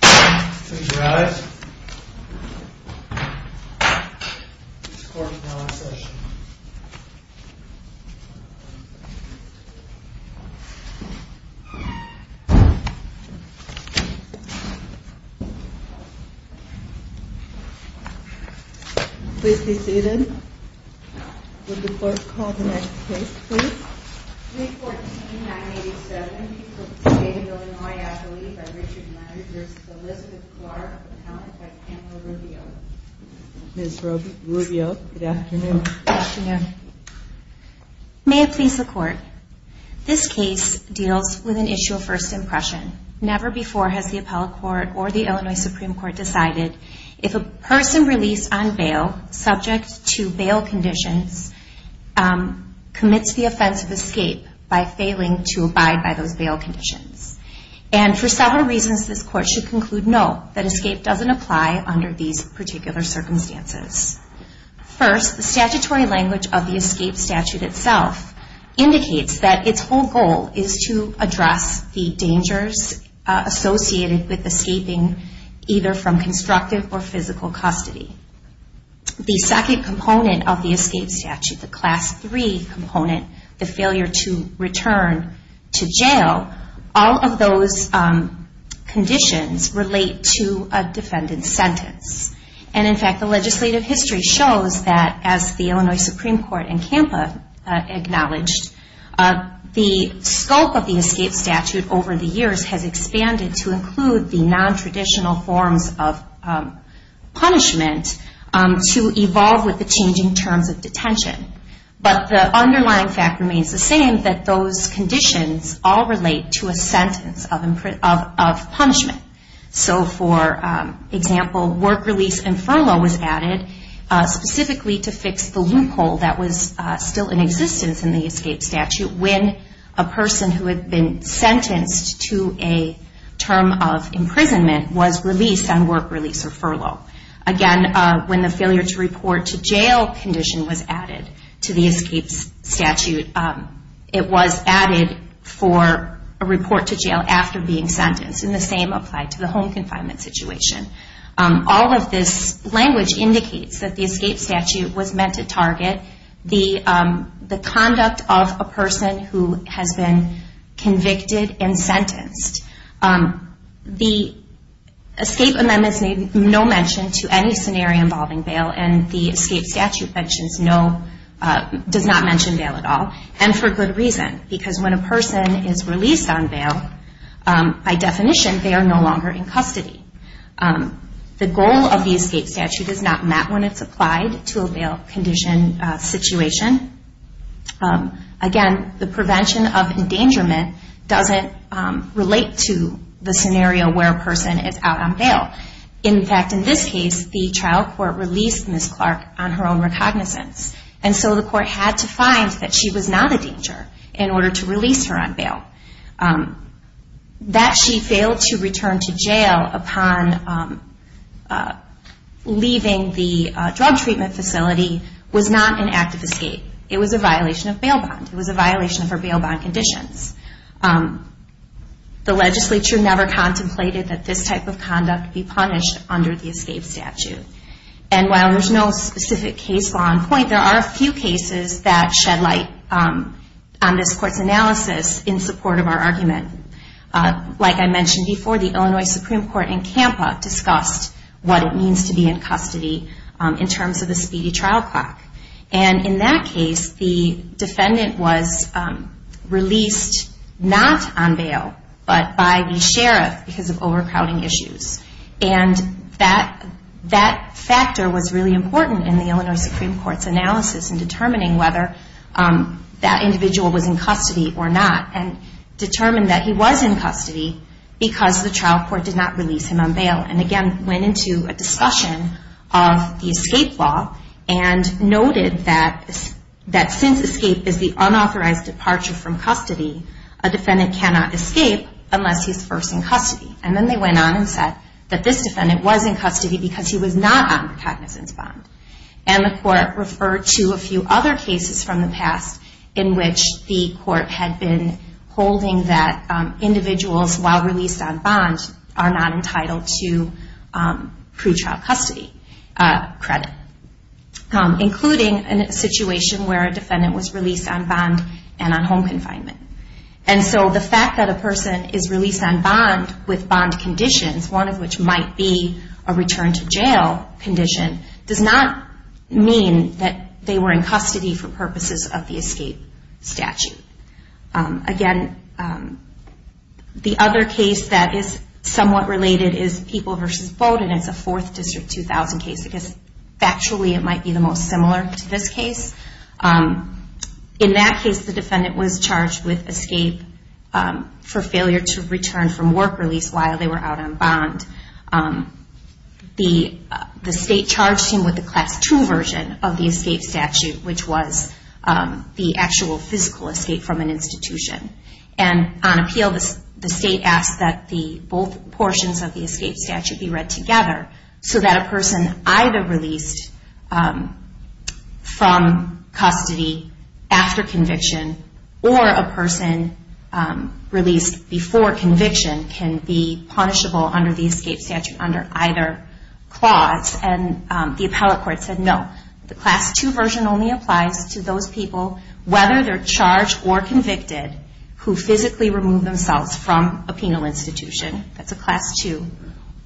Close your eyes. This court is now in session. Please be seated. Would the clerk call the next case please? 314-987. People of the State of Illinois. Appellee by Richard Myers v. Elizabeth Clark. Appellant by Pamela Rubio. Ms. Rubio, good afternoon. May it please the Court. This case deals with an issue of first impression. Never before has the Appellate Court or the Illinois Supreme Court decided if a person released on bail, subject to bail conditions, commits the offense of escape by failing to abide by those bail conditions. And for several reasons, this Court should conclude no, that escape doesn't apply under these particular circumstances. First, the statutory language of the escape statute itself indicates that its whole goal is to address the dangers associated with escaping either from constructive or physical custody. The second component of the escape statute, the class 3 component, the failure to return to jail, all of those conditions relate to a defendant's sentence. And in fact, the legislative history shows that as the Illinois Supreme Court and CAMPA acknowledged, the scope of the escape statute over the years has expanded to include the nontraditional forms of punishment, to evolve with the changing terms of detention. But the underlying fact remains the same, that those conditions all relate to a sentence of punishment. So for example, work release and furlough was added specifically to fix the loophole that was still in existence in the escape statute. When a person who had been sentenced to a term of imprisonment was released on work release or furlough. Again, when the failure to report to jail condition was added to the escape statute, it was added for a report to jail after being sentenced. And the same applied to the home confinement situation. All of this language indicates that the escape statute was meant to target the conduct of a person who has been convicted and sentenced. The escape amendments made no mention to any scenario involving bail, and the escape statute does not mention bail at all, and for good reason. Because when a person is released on bail, by definition they are no longer in custody. The goal of the escape statute is not met when it's applied to a bail condition situation. Again, the prevention of endangerment doesn't relate to the scenario where a person is out on bail. In fact, in this case, the trial court released Ms. Clark on her own recognizance. And so the court had to find that she was not a danger in order to release her on bail. That she failed to return to jail upon leaving the drug treatment facility was not an act of escape. It was a violation of bail bond. It was a violation of her bail bond conditions. The legislature never contemplated that this type of conduct be punished under the escape statute. And while there's no specific case law in point, there are a few cases that shed light on this court's analysis in support of our argument. Like I mentioned before, the Illinois Supreme Court in CAMPA discussed what it means to be in custody in terms of a speedy trial clock. And in that case, the defendant was released not on bail, but by the sheriff because of overcrowding issues. And that factor was really important in the Illinois Supreme Court's analysis in determining whether that individual was in custody or not. And determined that he was in custody because the trial court did not release him on bail. And again, went into a discussion of the escape law and noted that since escape is the unauthorized departure from custody, a defendant cannot escape unless he's first in custody. And then they went on and said that this defendant was in custody because he was not on recognizance bond. And the court referred to a few other cases from the past in which the court had been holding that individuals while released on bond are not entitled to pretrial custody credit. Including a situation where a defendant was released on bond and on home confinement. And so the fact that a person is released on bond with bond conditions, one of which might be a return to jail condition, does not mean that they were in custody for purposes of the escape statute. Again, the other case that is somewhat related is People v. Bowdoin. It's a 4th District 2000 case. Because factually it might be the most similar to this case. In that case, the defendant was charged with escape for failure to return from work release while they were out on bond. The state charged him with the Class II version of the escape statute, which was the actual physical escape from an institution. And on appeal, the state asked that both portions of the escape statute be read together. So that a person either released from custody after conviction or a person released before conviction can be punishable under the escape statute under either clause. And the appellate court said no. The Class II version only applies to those people, whether they're charged or convicted, who physically remove themselves from a penal institution. That's a Class II.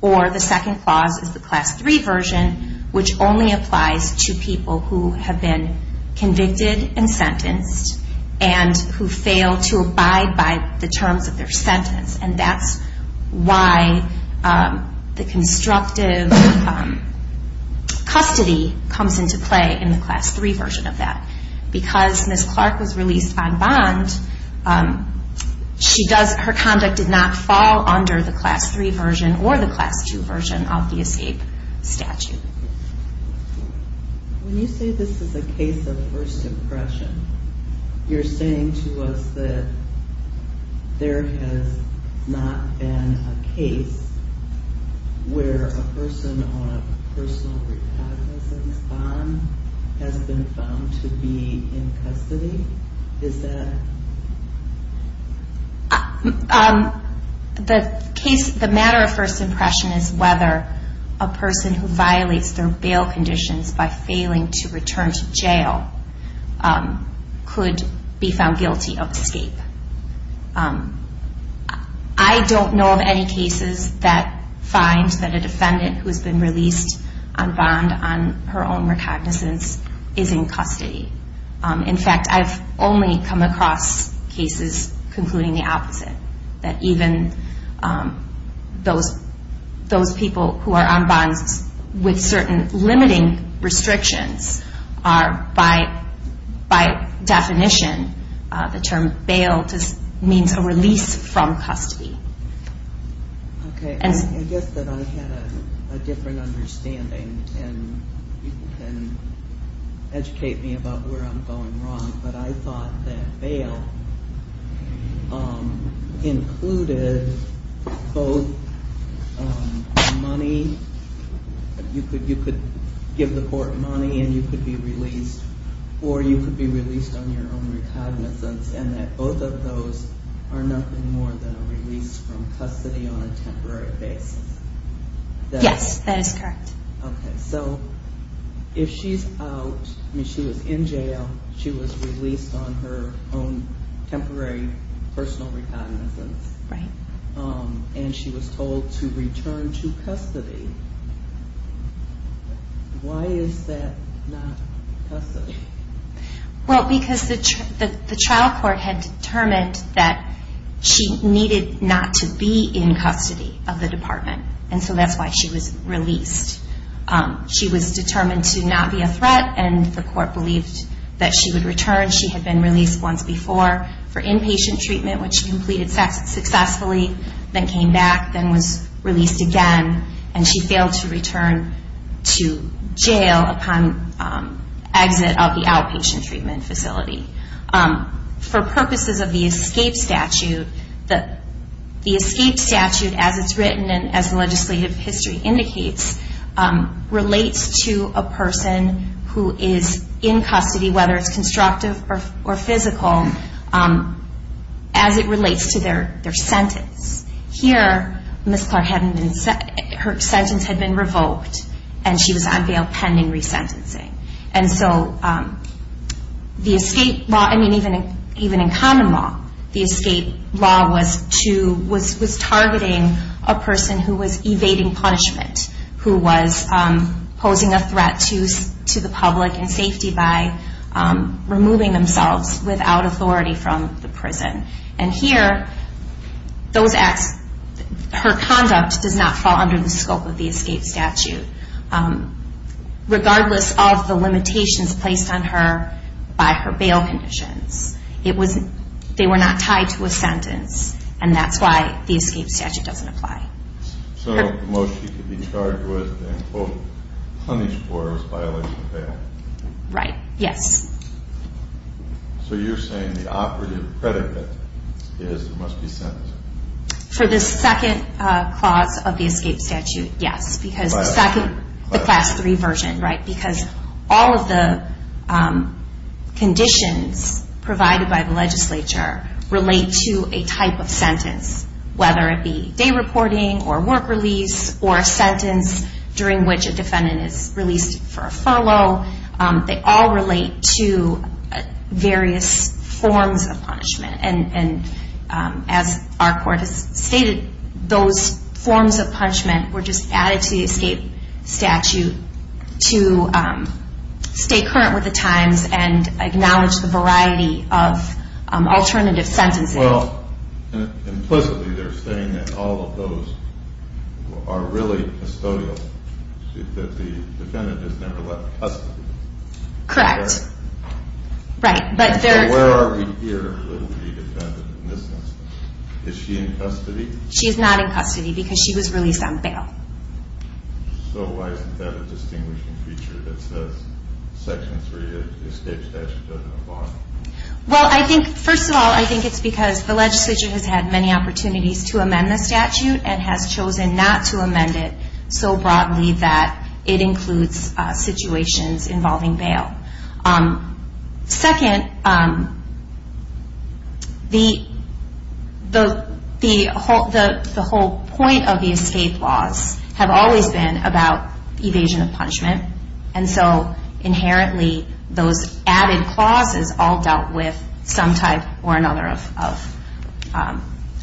Or the second clause is the Class III version, which only applies to people who have been convicted and sentenced and who fail to abide by the terms of their sentence. And that's why the constructive custody comes into play in the Class III version of that. Because Ms. Clark was released on bond, her conduct did not fall under the Class III version or the Class II version of the escape statute. When you say this is a case of first impression, you're saying to us that there has not been a case where a person on a personal recognizance bond has been found to be a suspect. Is that true? The matter of first impression is whether a person who violates their bail conditions by failing to return to jail could be found guilty of escape. I don't know of any cases that find that a defendant who has been released on bond on her own recognizance is in custody. In fact, I've only come across cases concluding the opposite, that even those people who are on bonds with certain limiting restrictions are, by definition, the term bail means a release from custody. Okay. I guess that I had a different understanding, and you can educate me about where I'm coming from. But I thought that bail included both money, you could give the court money and you could be released, or you could be released on your own recognizance, and that both of those are nothing more than a release from custody on a temporary basis. Yes, that is correct. Okay. So if she's out, I mean, she was in jail, she was released on her own temporary personal recognizance, and she was told to return to custody, why is that not custody? Well, because the trial court had determined that she needed not to be in custody of the department, and so that's why she was released. She was determined to not be a threat, and the court believed that she would return. She had been released once before for inpatient treatment, which she completed successfully, then came back, then was released again, and she failed to return to jail upon exit of the outpatient treatment facility. For purposes of the escape statute, the escape statute, as it's written and as the legislative history indicates, is a state statute. It relates to a person who is in custody, whether it's constructive or physical, as it relates to their sentence. Here, Ms. Clark, her sentence had been revoked, and she was on bail pending resentencing. And so the escape law, I mean, even in common law, the escape law was to, was targeting a person who was evading punishment, who was, you know, posing a threat to the public and safety by removing themselves without authority from the prison. And here, those acts, her conduct does not fall under the scope of the escape statute, regardless of the limitations placed on her by her bail conditions. It was, they were not tied to a sentence, and that's why the escape statute doesn't apply. Senator Moshe could be charged with and, quote, punished for his violation of bail. Right, yes. So you're saying the operative predicate is there must be sentencing. For the second clause of the escape statute, yes. Because the second, the class three version, right, because all of the conditions provided by the legislature relate to a type of sentence, whether it be day reporting, or work release, or a sentence during which a defendant is released for a follow. They all relate to various forms of punishment. And as our court has stated, those forms of punishment were just added to the escape statute to stay current with the times and acknowledge the variety of alternative sentences. Well, implicitly they're saying that all of those are really custodial. That the defendant is never left custody. Correct. Right. So where are we here with the defendant in this instance? Is she in custody? She's not in custody because she was released on bail. So why isn't that a distinguishing feature that says section three of the escape statute doesn't apply? Well, I think, first of all, I think it's because the legislature has had many opportunities to amend the statute and has chosen not to amend it so broadly that it includes situations involving bail. Second, the whole point of the escape laws have always been about evasion of punishment. And so inherently those added clauses all dealt with some type or another of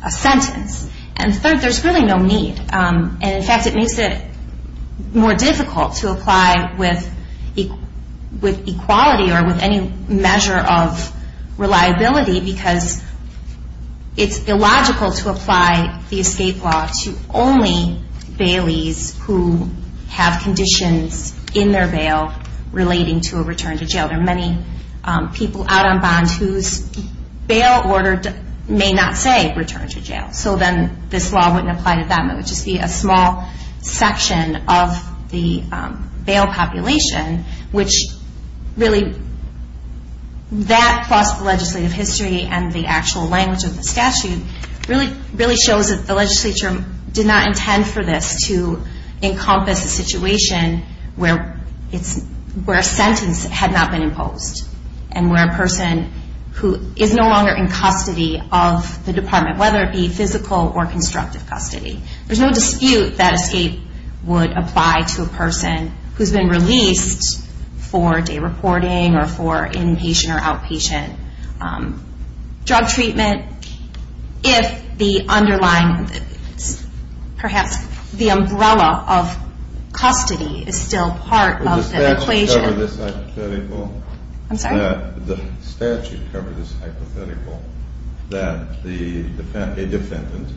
a sentence. And third, there's really no need. And in fact, it makes it more difficult to apply with equality or with any measure of reliability, because it's illogical to apply the escape law to only baileys who have conditions in favor of bail. In their bail relating to a return to jail. There are many people out on bond whose bail order may not say return to jail. So then this law wouldn't apply to them. It would just be a small section of the bail population, which really, that plus the legislative history and the actual language of the statute, really shows that the legislature did not intend for this to encompass a situation where a sentence had not been imposed. And where a person who is no longer in custody of the department, whether it be physical or constructive custody. There's no dispute that escape would apply to a person who's been released for day reporting or for inpatient or outpatient drug treatment. If the underlying, perhaps the umbrella of custody is still part of the equation. The statute covered this hypothetical. That the defendant,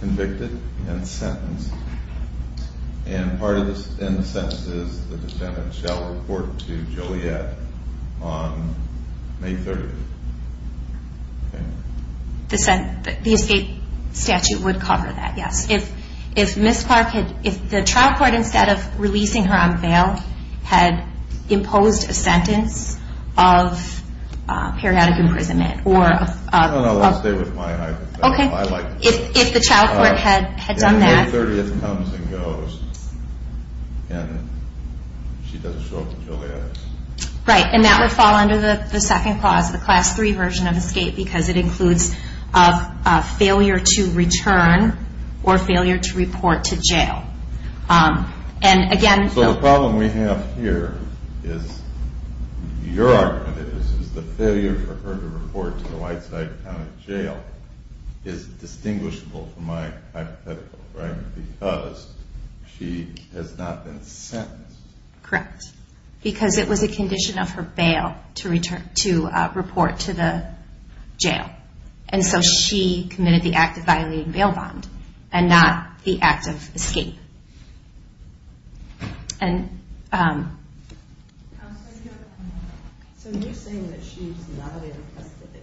convicted and sentenced. And part of the sentence is the defendant shall report to Juliet on May 30th. The escape statute would cover that, yes. If Ms. Clark, if the trial court instead of releasing her on bail had imposed a sentence of periodic imprisonment. No, no, I'll stay with my hypothetical. If the trial court had done that. May 30th comes and goes and she doesn't show up until the end. Right, and that would fall under the second clause, the class 3 version of escape because it includes a failure to return or failure to report to jail. And again. So the problem we have here is, your argument is, is the failure for her to report to the Whiteside County Jail is distinguishable from my hypothetical, right? Because she has not been sentenced. Correct, because it was a condition of her bail to report to the jail. And so she committed the act of violating bail bond and not the act of escape. So you're saying that she's not in custody.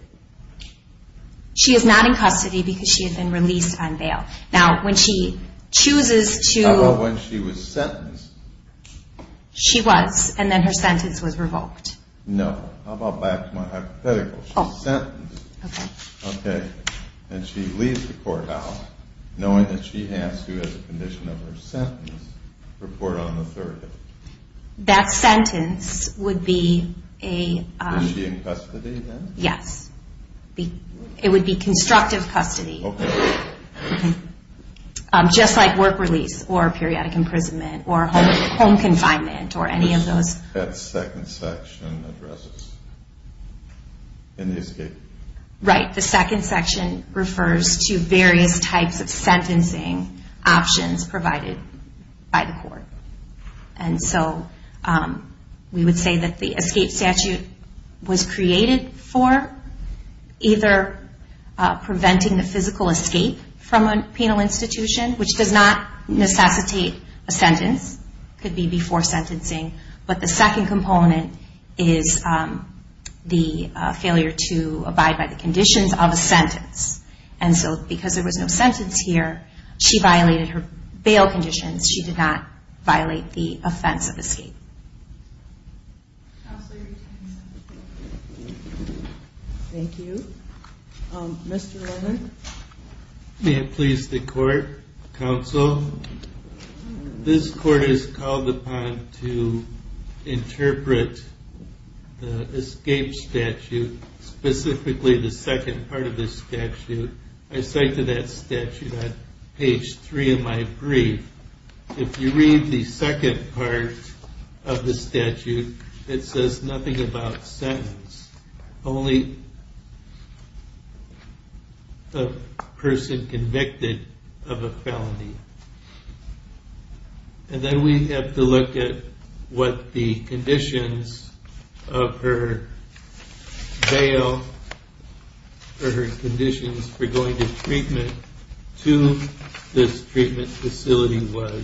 She is not in custody because she has been released on bail. How about when she was sentenced? She was, and then her sentence was revoked. No, how about back to my hypothetical. She was sentenced, and she leaves the court house knowing that she has to, as a condition of her sentence, report on the 30th. That sentence would be a, Yes, it would be constructive custody. Okay. Just like work release or periodic imprisonment or home confinement or any of those. That second section addresses in the escape. Right, the second section refers to various types of sentencing options provided by the court. And so we would say that the escape statute was created for either preventing the physical escape from a penal institution, which does not necessitate a sentence. It could be before sentencing. But the second component is the failure to abide by the conditions of a sentence. And so because there was no sentence here, she violated her bail conditions. She did not violate the offense of escape. Thank you. Mr. Roman. May it please the court, counsel, this court is called upon to interpret the escape statute, specifically the second part of the statute. I cite to that statute on page 3 of my brief. If you read the second part of the statute, it says nothing about sentence. And then we have to look at what the conditions of her bail or her conditions for going to treatment to this treatment facility was.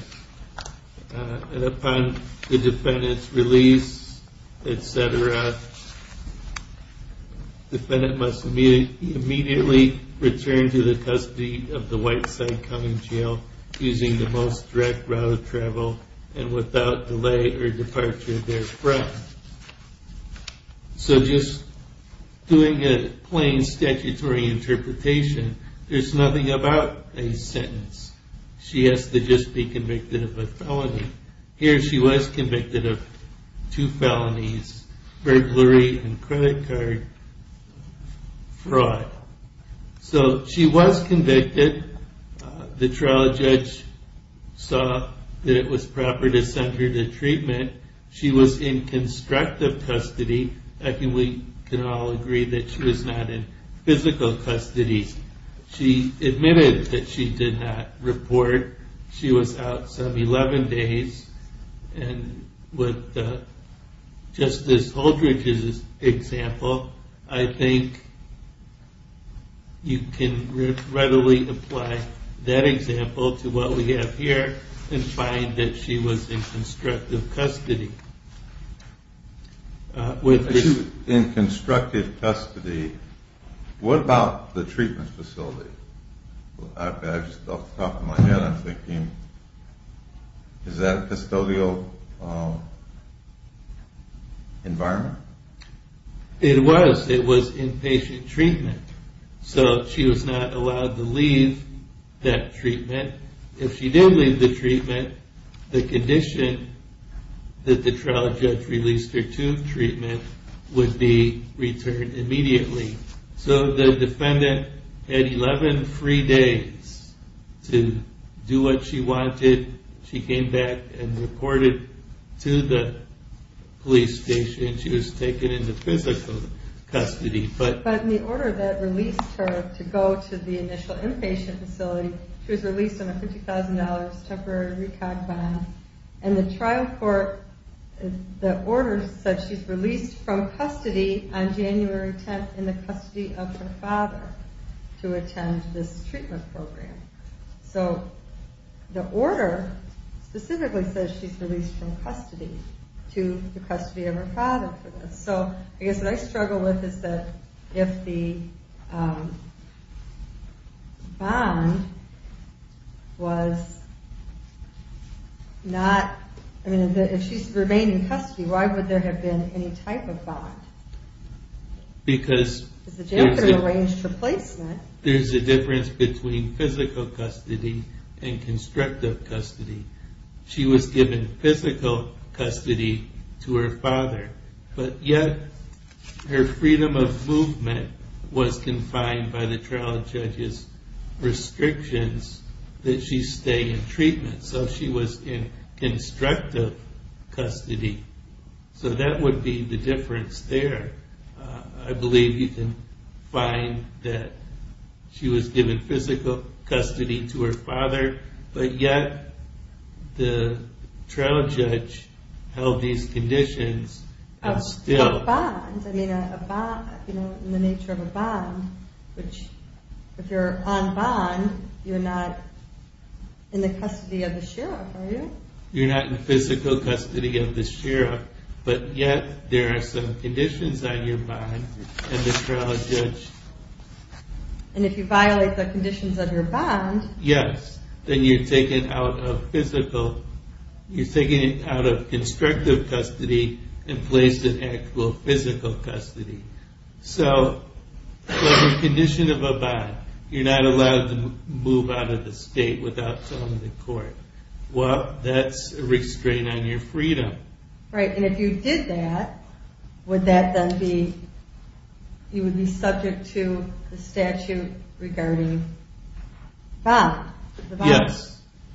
And upon the defendant's release, etc., the defendant must immediately return to the custody of the Whiteside County Jail using the most direct route of travel and without delay or departure thereof. So just doing a plain statutory interpretation, there's nothing about a sentence. She has to just be convicted of a felony. Here she was convicted of two felonies, burglary and credit card fraud. So she was convicted. The trial judge saw that it was proper to send her to treatment. She was in constructive custody. I think we can all agree that she was not in physical custody. She admitted that she did not report. She was out some 11 days. And with Justice Holdridge's example, I think you can readily apply that example to what we have here and find that she was in constructive custody. In constructive custody, what about the treatment facility? Is that a custodial environment? It was. It was inpatient treatment. So she was not allowed to leave that treatment. If she did leave the treatment, the condition that the trial judge released her to treatment would be returned immediately. So the defendant had 11 free days to do what she wanted. She came back and reported to the police station. But in the order that released her to go to the initial inpatient facility, she was released on a $50,000 temporary recog bond. And the trial court, the order said she's released from custody on January 10th in the custody of her father to attend this treatment program. So the order specifically says she's released from custody to the custody of her father. So I guess what I struggle with is that if the bond was not... I mean, if she's remaining in custody, why would there have been any type of bond? Because there's a difference between physical custody and constructive custody. She was given physical custody to her father, but yet her freedom of movement was confined by the trial judge's restrictions that she stay in treatment. So she was in constructive custody. So that would be the difference there. I believe you can find that she was given physical custody to her father, but yet the trial judge held these conditions as still... You're not in physical custody of the sheriff, but yet there are some conditions on your bond, and the trial judge... Yes, then you're taken out of physical, you're taken out of constructive custody and placed in actual physical custody. So under the condition of a bond, you're not allowed to move out of the state without telling the court. Well, that's a restraint on your freedom. Right, and if you did that, would that then be... You would be subject to the statute regarding the bond,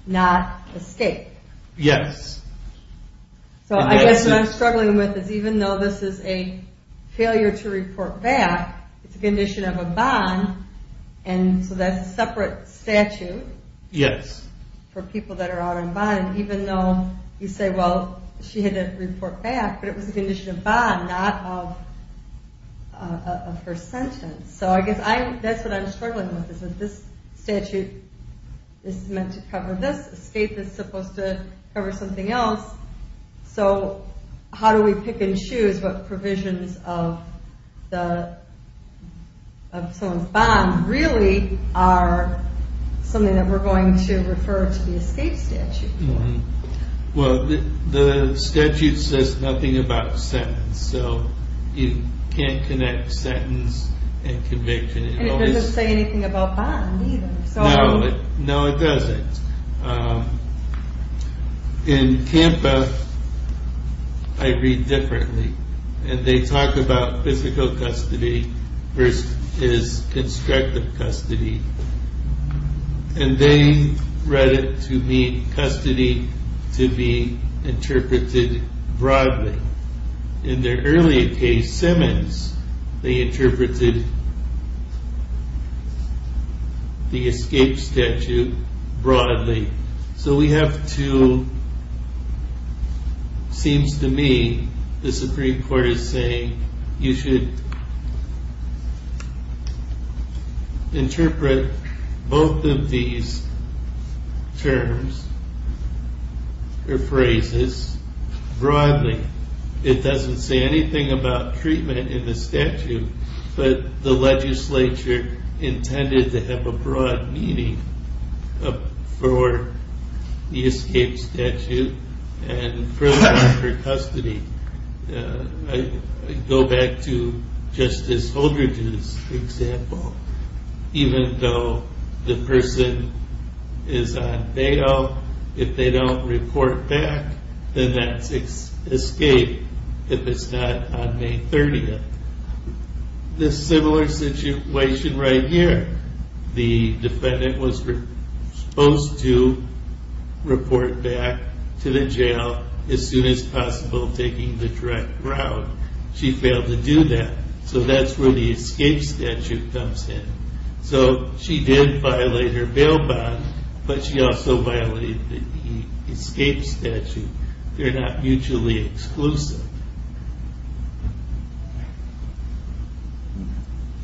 not the state. Yes. So I guess what I'm struggling with is even though this is a failure to report back, it's a condition of a bond, and so that's a separate statute for people that are out on bond, even though you say, well, she had to report back, but it was a condition of bond, not of her sentence. So I guess that covers something else. So how do we pick and choose what provisions of someone's bond really are something that we're going to refer to the state statute for? Well, the statute says nothing about sentence, so you can't connect sentence and conviction. And it doesn't say anything about bond either. No, it doesn't. In CAMPA, I read differently, and they talk about physical custody versus constructive custody, and they read it to mean custody to be interpreted broadly. In their earlier case, Simmons, they interpreted the escape statute broadly. So we have to... Seems to me the Supreme Court is saying you should interpret both of these terms or phrases broadly. It doesn't say anything about treatment in the statute, but the legislature intended to have a broad meaning for the escape statute and for custody. I go back to Justice Holdred's example. Even though the person is on bail, if they don't report back, then that's escape if it's not on May 30th. This similar situation right here. The defendant was supposed to report back to the jail as soon as possible taking the direct route. She failed to do that, so that's where the escape statute comes in. So she did violate her bail bond, but she also violated the escape statute. They're not mutually exclusive.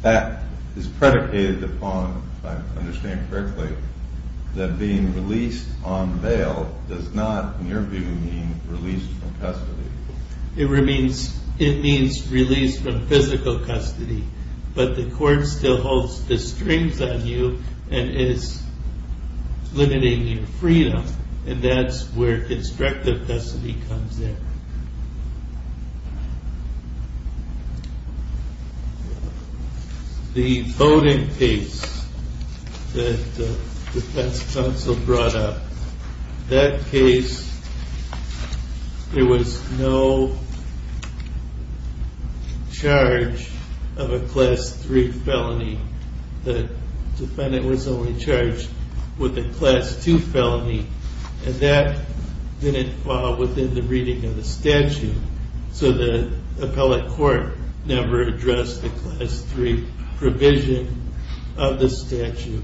That is predicated upon, if I understand correctly, that being released on bail does not, in your view, mean release from custody. It means release from physical custody, but the court still holds the strings on you and is limiting your freedom, and that's where constructive custody comes in. The voting case that the defense counsel brought up. That case, there was no charge of a class 3 felony. The defendant was only charged with a class 2 felony, and that didn't fall within the reading of the statute, so the appellate court never addressed the class 3 provision of the statute.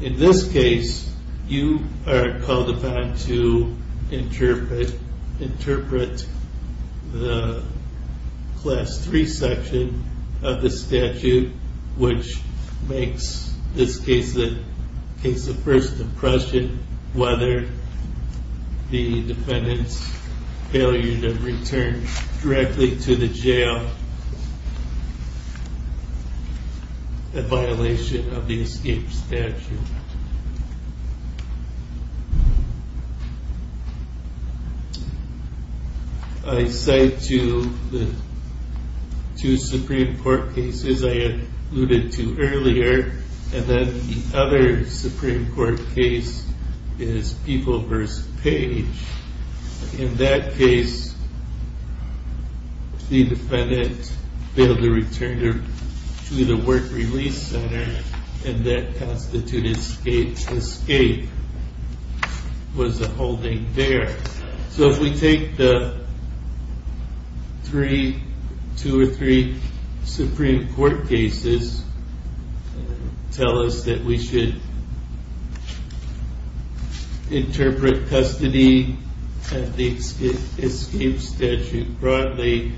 In this case, you are called upon to interpret the class 3 section of the statute which makes this case a first impression whether the defendant's failure to return directly to the jail, a violation of the escape statute. I cite two Supreme Court cases I alluded to earlier, and then the other Supreme Court case is Peeple v. Page. In that case, the defendant failed to return to the work release center, and that constituted escape. Escape was a holding there. So if we take the two or three Supreme Court cases, tell us that we should interpret custody and the escape statute broadly,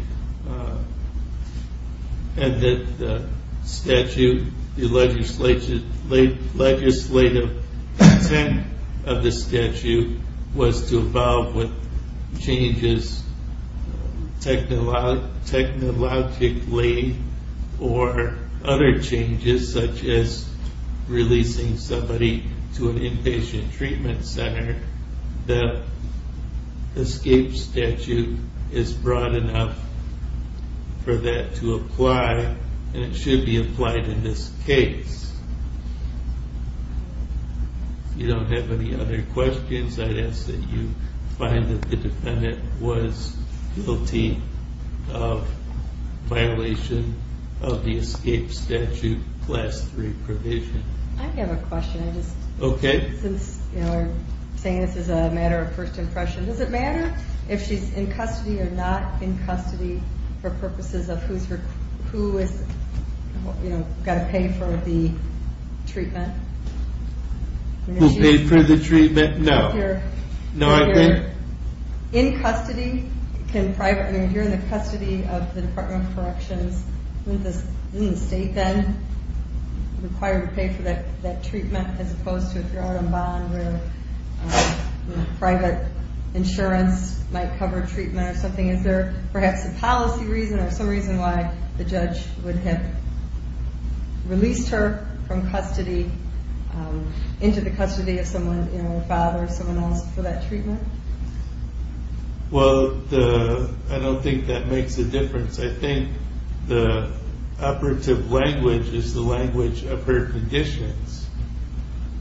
and that the legislative intent of the statute was to evolve with changes technologically or other changes such as releasing somebody to an inpatient treatment center, the escape statute is broad enough for that to apply, and it should be applied in this case. If you don't have any other questions, I'd ask that you find that the defendant was guilty of violation of the escape statute class 3 provision. I have a question. I'm saying this is a matter of first impression. Does it matter if she's in custody or not in custody for purposes of who's got to pay for the treatment? Who paid for the treatment? No. If you're in custody of the Department of Corrections, isn't the state then required to pay for that treatment as opposed to if you're out on bond where private insurance might cover treatment or something, is there perhaps a policy reason or some reason why the judge would have released her from custody into the custody of someone, her father or someone else for that treatment? Well, I don't think that makes a difference. I think the operative language is the language of her conditions.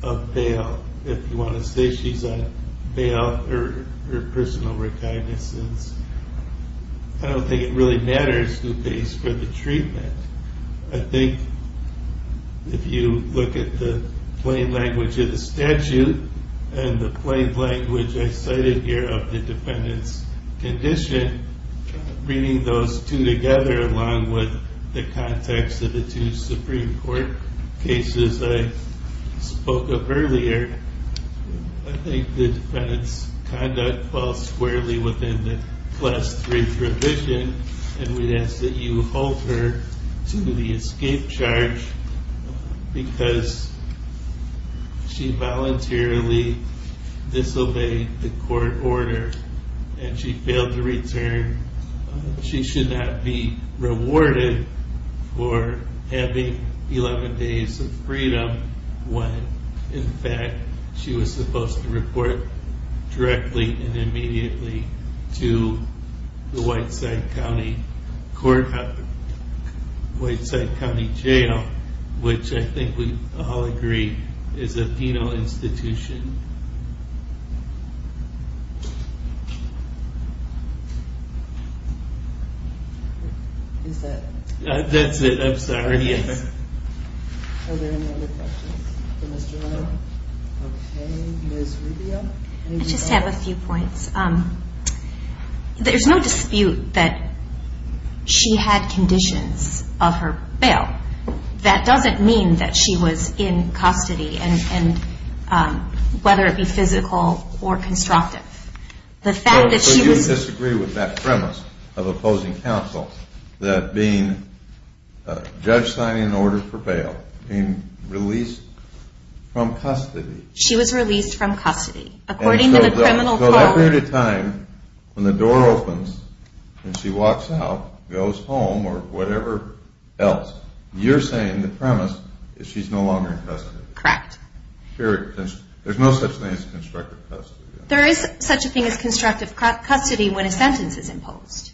Of bail, if you want to say she's on bail, her personal recognizance. I don't think it really matters who pays for the treatment. I think if you look at the plain language of the statute and the plain language I cited here of the defendant's condition, bringing those two together along with the context of the two Supreme Court cases I spoke of earlier, I think the defendant's conduct falls squarely within the Class III provision and we'd ask that you hold her to the escape charge because she voluntarily disobeyed the court order and she failed to return. She should not be rewarded for having 11 days of freedom when in fact she was supposed to report directly and immediately to the Whiteside County Court, Whiteside County Jail, which I think we all agree is a penal institution. Is that? That's it, I'm sorry. Are there any other questions for Ms. Girono? Okay, Ms. Rubio? I just have a few points. There's no dispute that she had conditions of her bail. That doesn't mean that she was in custody, whether it be physical or constructive. But you disagree with that premise of opposing counsel, that being a judge signing an order for bail, being released from custody. She was released from custody, according to the criminal code. So that period of time when the door opens and she walks out, goes home, or whatever else, you're saying the premise is she's no longer in custody. Correct. There's no such thing as constructive custody. There is such a thing as constructive custody when a sentence is imposed.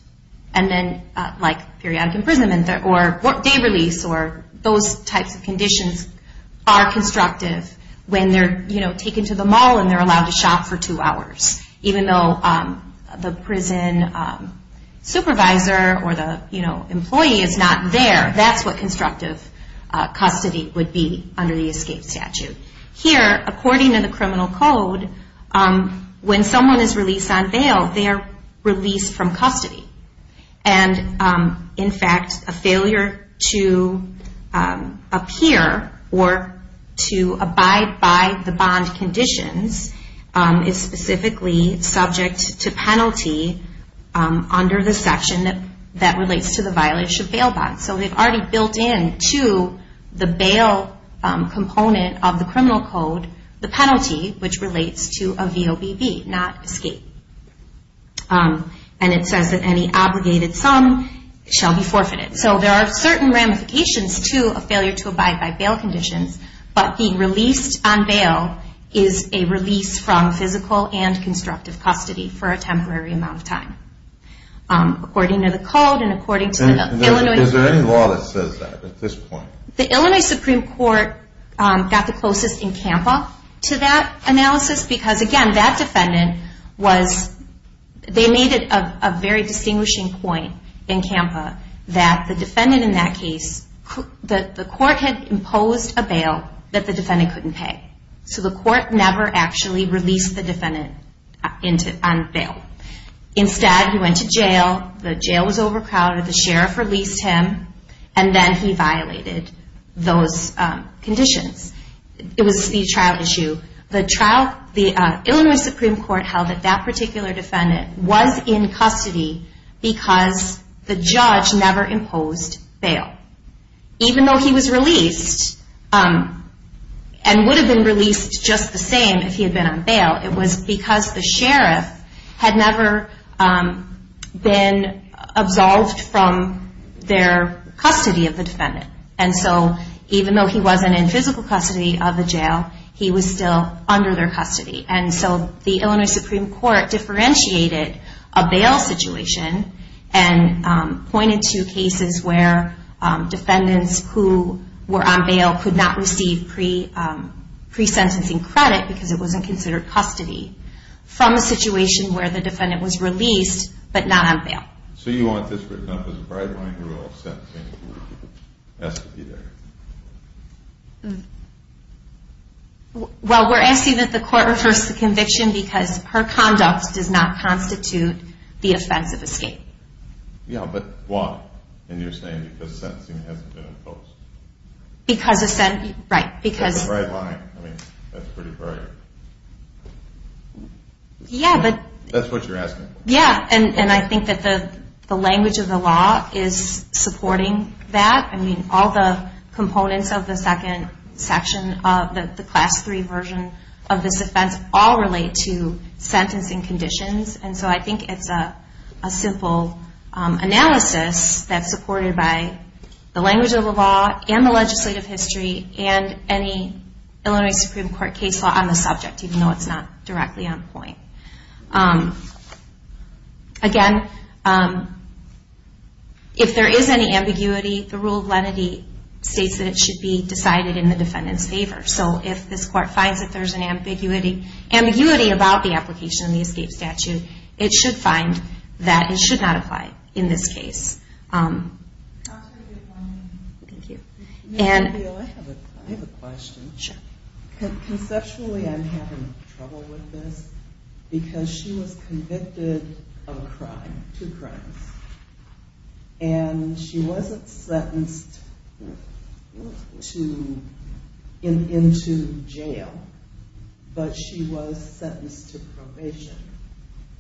Like periodic imprisonment or day release or those types of conditions are constructive when they're taken to the mall and they're allowed to shop for two hours. Even though the prison supervisor or the employee is not there, that's what constructive custody would be under the escape statute. Here, according to the criminal code, when someone is released on bail, they are released from custody. And in fact, a failure to appear or to abide by the bond conditions is specifically subject to penalty under the section that relates to the violation of bail bonds. So they've already built into the bail component of the criminal code the penalty, which relates to a VOBB, not escape. And it says that any obligated sum shall be forfeited. So there are certain ramifications to a failure to abide by bail conditions, but being released on bail is a release from physical and constructive custody for a temporary amount of time. According to the code and according to the Illinois... Is there any law that says that at this point? The Illinois Supreme Court got the closest in CAMPA to that analysis because, again, that defendant was... They made it a very distinguishing point in CAMPA that the defendant in that case... The court had imposed a bail that the defendant couldn't pay. So the court never actually released the defendant on bail. Instead, he went to jail, the jail was overcrowded, the sheriff released him, and then he violated those conditions. It was the trial issue. The trial... The Illinois Supreme Court held that that particular defendant was in custody because the judge never imposed bail. Even though he was released and would have been released just the same if he had been on bail, it was because the sheriff had never been absolved from their custody of the defendant. And so even though he wasn't in physical custody of the jail, he was still under their custody. And so the Illinois Supreme Court differentiated a bail situation and pointed to cases where defendants who were on bail could not receive pre-sentencing credit because it wasn't considered custody from a situation where the defendant was released but not on bail. So you want this written up as a bright-line rule of sentencing who has to be there? Well, we're asking that the court reverse the conviction because her conduct does not constitute the offense of escape. Yeah, but why? And you're saying because sentencing hasn't been imposed. Because of sent... Right, because... It's a bright line. I mean, that's pretty bright. Yeah, but... That's what you're asking. Yeah, and I think that the language of the law is supporting that. I mean, all the components of the second section of the Class III version of this offense all relate to sentencing conditions. And so I think it's a simple analysis that's supported by the language of the law and the legislative history and any Illinois Supreme Court case law on the subject even though it's not directly on point. Again, if there is any ambiguity, the rule of lenity states that it should be decided in the defendant's favor. So if this court finds that there's an ambiguity about the application of the escape statute, it should find that it should not apply in this case. Dr. Goodwin. Thank you. Ms. McNeil, I have a question. Sure. Conceptually, I'm having trouble with this because she was convicted of a crime, two crimes. And she wasn't sentenced into jail, but she was sentenced to probation.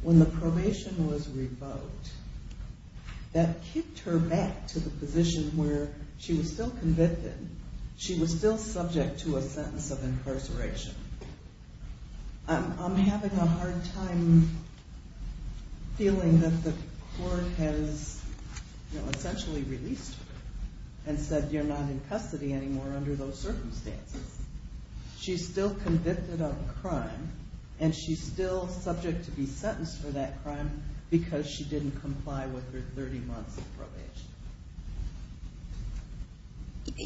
When the probation was revoked, that kicked her back to the position where she was still convicted. She was still subject to a sentence of incarceration. I'm having a hard time feeling that the court has essentially released her and said you're not in custody anymore under those circumstances. She's still convicted of a crime, and she's still subject to be sentenced for that crime because she didn't comply with her 30 months of probation.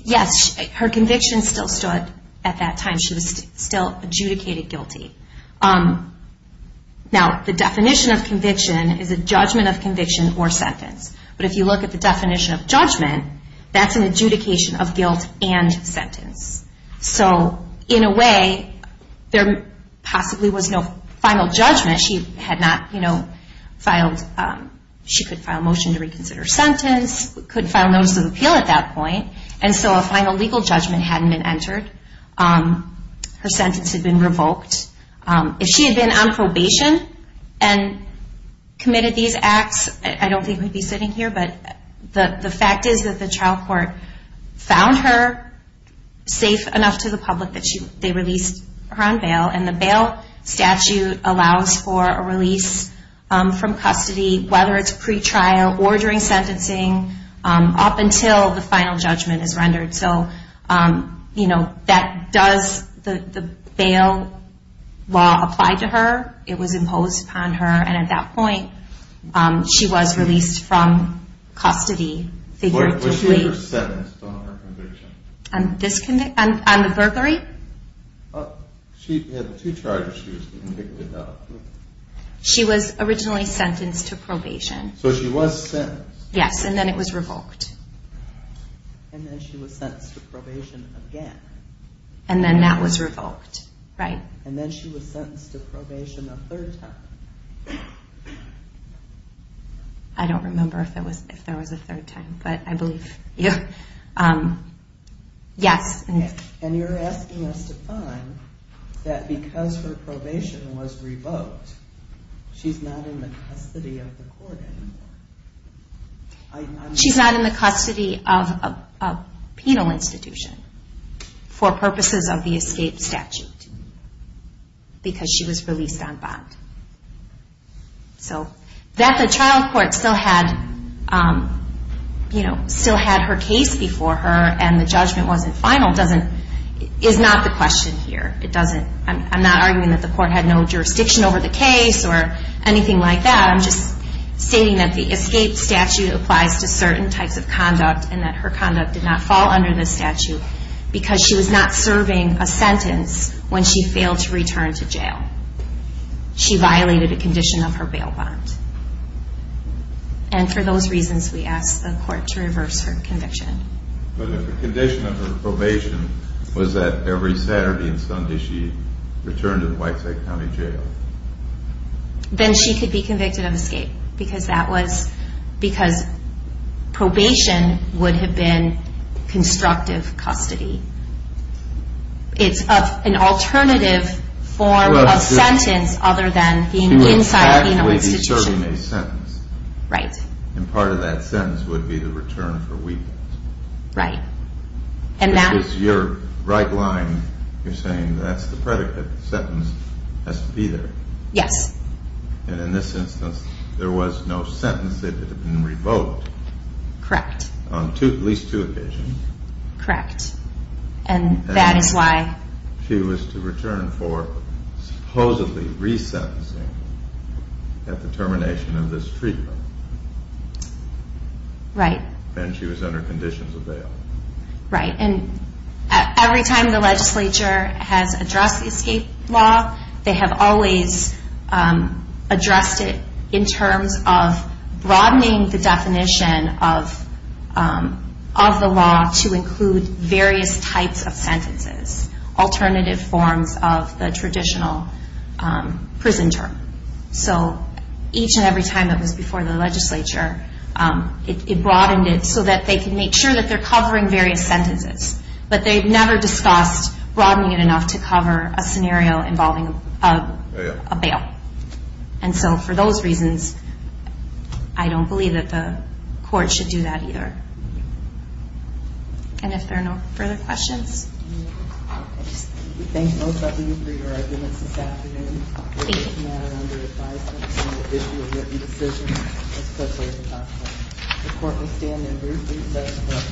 Yes, her conviction still stood at that time. She was still adjudicated guilty. Now, the definition of conviction is a judgment of conviction or sentence. But if you look at the definition of judgment, that's an adjudication of guilt and sentence. So in a way, there possibly was no final judgment. She could file a motion to reconsider her sentence, could file notice of appeal at that point, and so a final legal judgment hadn't been entered. Her sentence had been revoked. If she had been on probation and committed these acts, I don't think we'd be sitting here, but the fact is that the trial court found her safe enough to the public that they released her on bail, and the bail statute allows for a release from custody, whether it's pretrial or during sentencing, and so that does the bail law apply to her. It was imposed upon her, and at that point, she was released from custody. Was she ever sentenced on her conviction? On the burglary? She had two charges she was convicted of. She was originally sentenced to probation. So she was sentenced. Yes, and then it was revoked. And then she was sentenced to probation again. And then that was revoked, right. And then she was sentenced to probation a third time. I don't remember if there was a third time, but I believe you. Yes. And you're asking us to find that because her probation was revoked, she's not in the custody of the court anymore. She's not in the custody of a penal institution for purposes of the escape statute because she was released on bond. So that the trial court still had her case before her and the judgment wasn't final is not the question here. I'm not arguing that the court had no jurisdiction over the case or anything like that. I'm just stating that the escape statute applies to certain types of conduct and that her conduct did not fall under this statute because she was not serving a sentence when she failed to return to jail. She violated a condition of her bail bond. And for those reasons, we asked the court to reverse her conviction. But if the condition of her probation was that every Saturday and Sunday she returned to the Whiteside County Jail. Then she could be convicted of escape. Because probation would have been constructive custody. It's an alternative form of sentence other than being inside a penal institution. She would actually be serving a sentence. Right. And part of that sentence would be the return for weakness. Right. It's your right line. You're saying that's the predicate. The sentence has to be there. Yes. And in this instance, there was no sentence that had been revoked. Correct. On at least two occasions. Correct. And that is why. She was to return for supposedly resentencing at the termination of this treatment. Right. And she was under conditions of bail. Right. And every time the legislature has addressed the escape law, they have always addressed it in terms of broadening the definition of the law to include various types of sentences. Alternative forms of the traditional prison term. So each and every time it was before the legislature, it broadened it so that they could make sure that they're covering various sentences. But they've never discussed broadening it enough to cover a scenario involving a bail. And so for those reasons, I don't believe that the court should do that either. And if there are no further questions. We thank both of you for your arguments this afternoon. Thank you. It was a matter under advisement to issue a written decision as quickly as possible. The court will stand in routine session until after the next hearing. Thank you. Thank you very much.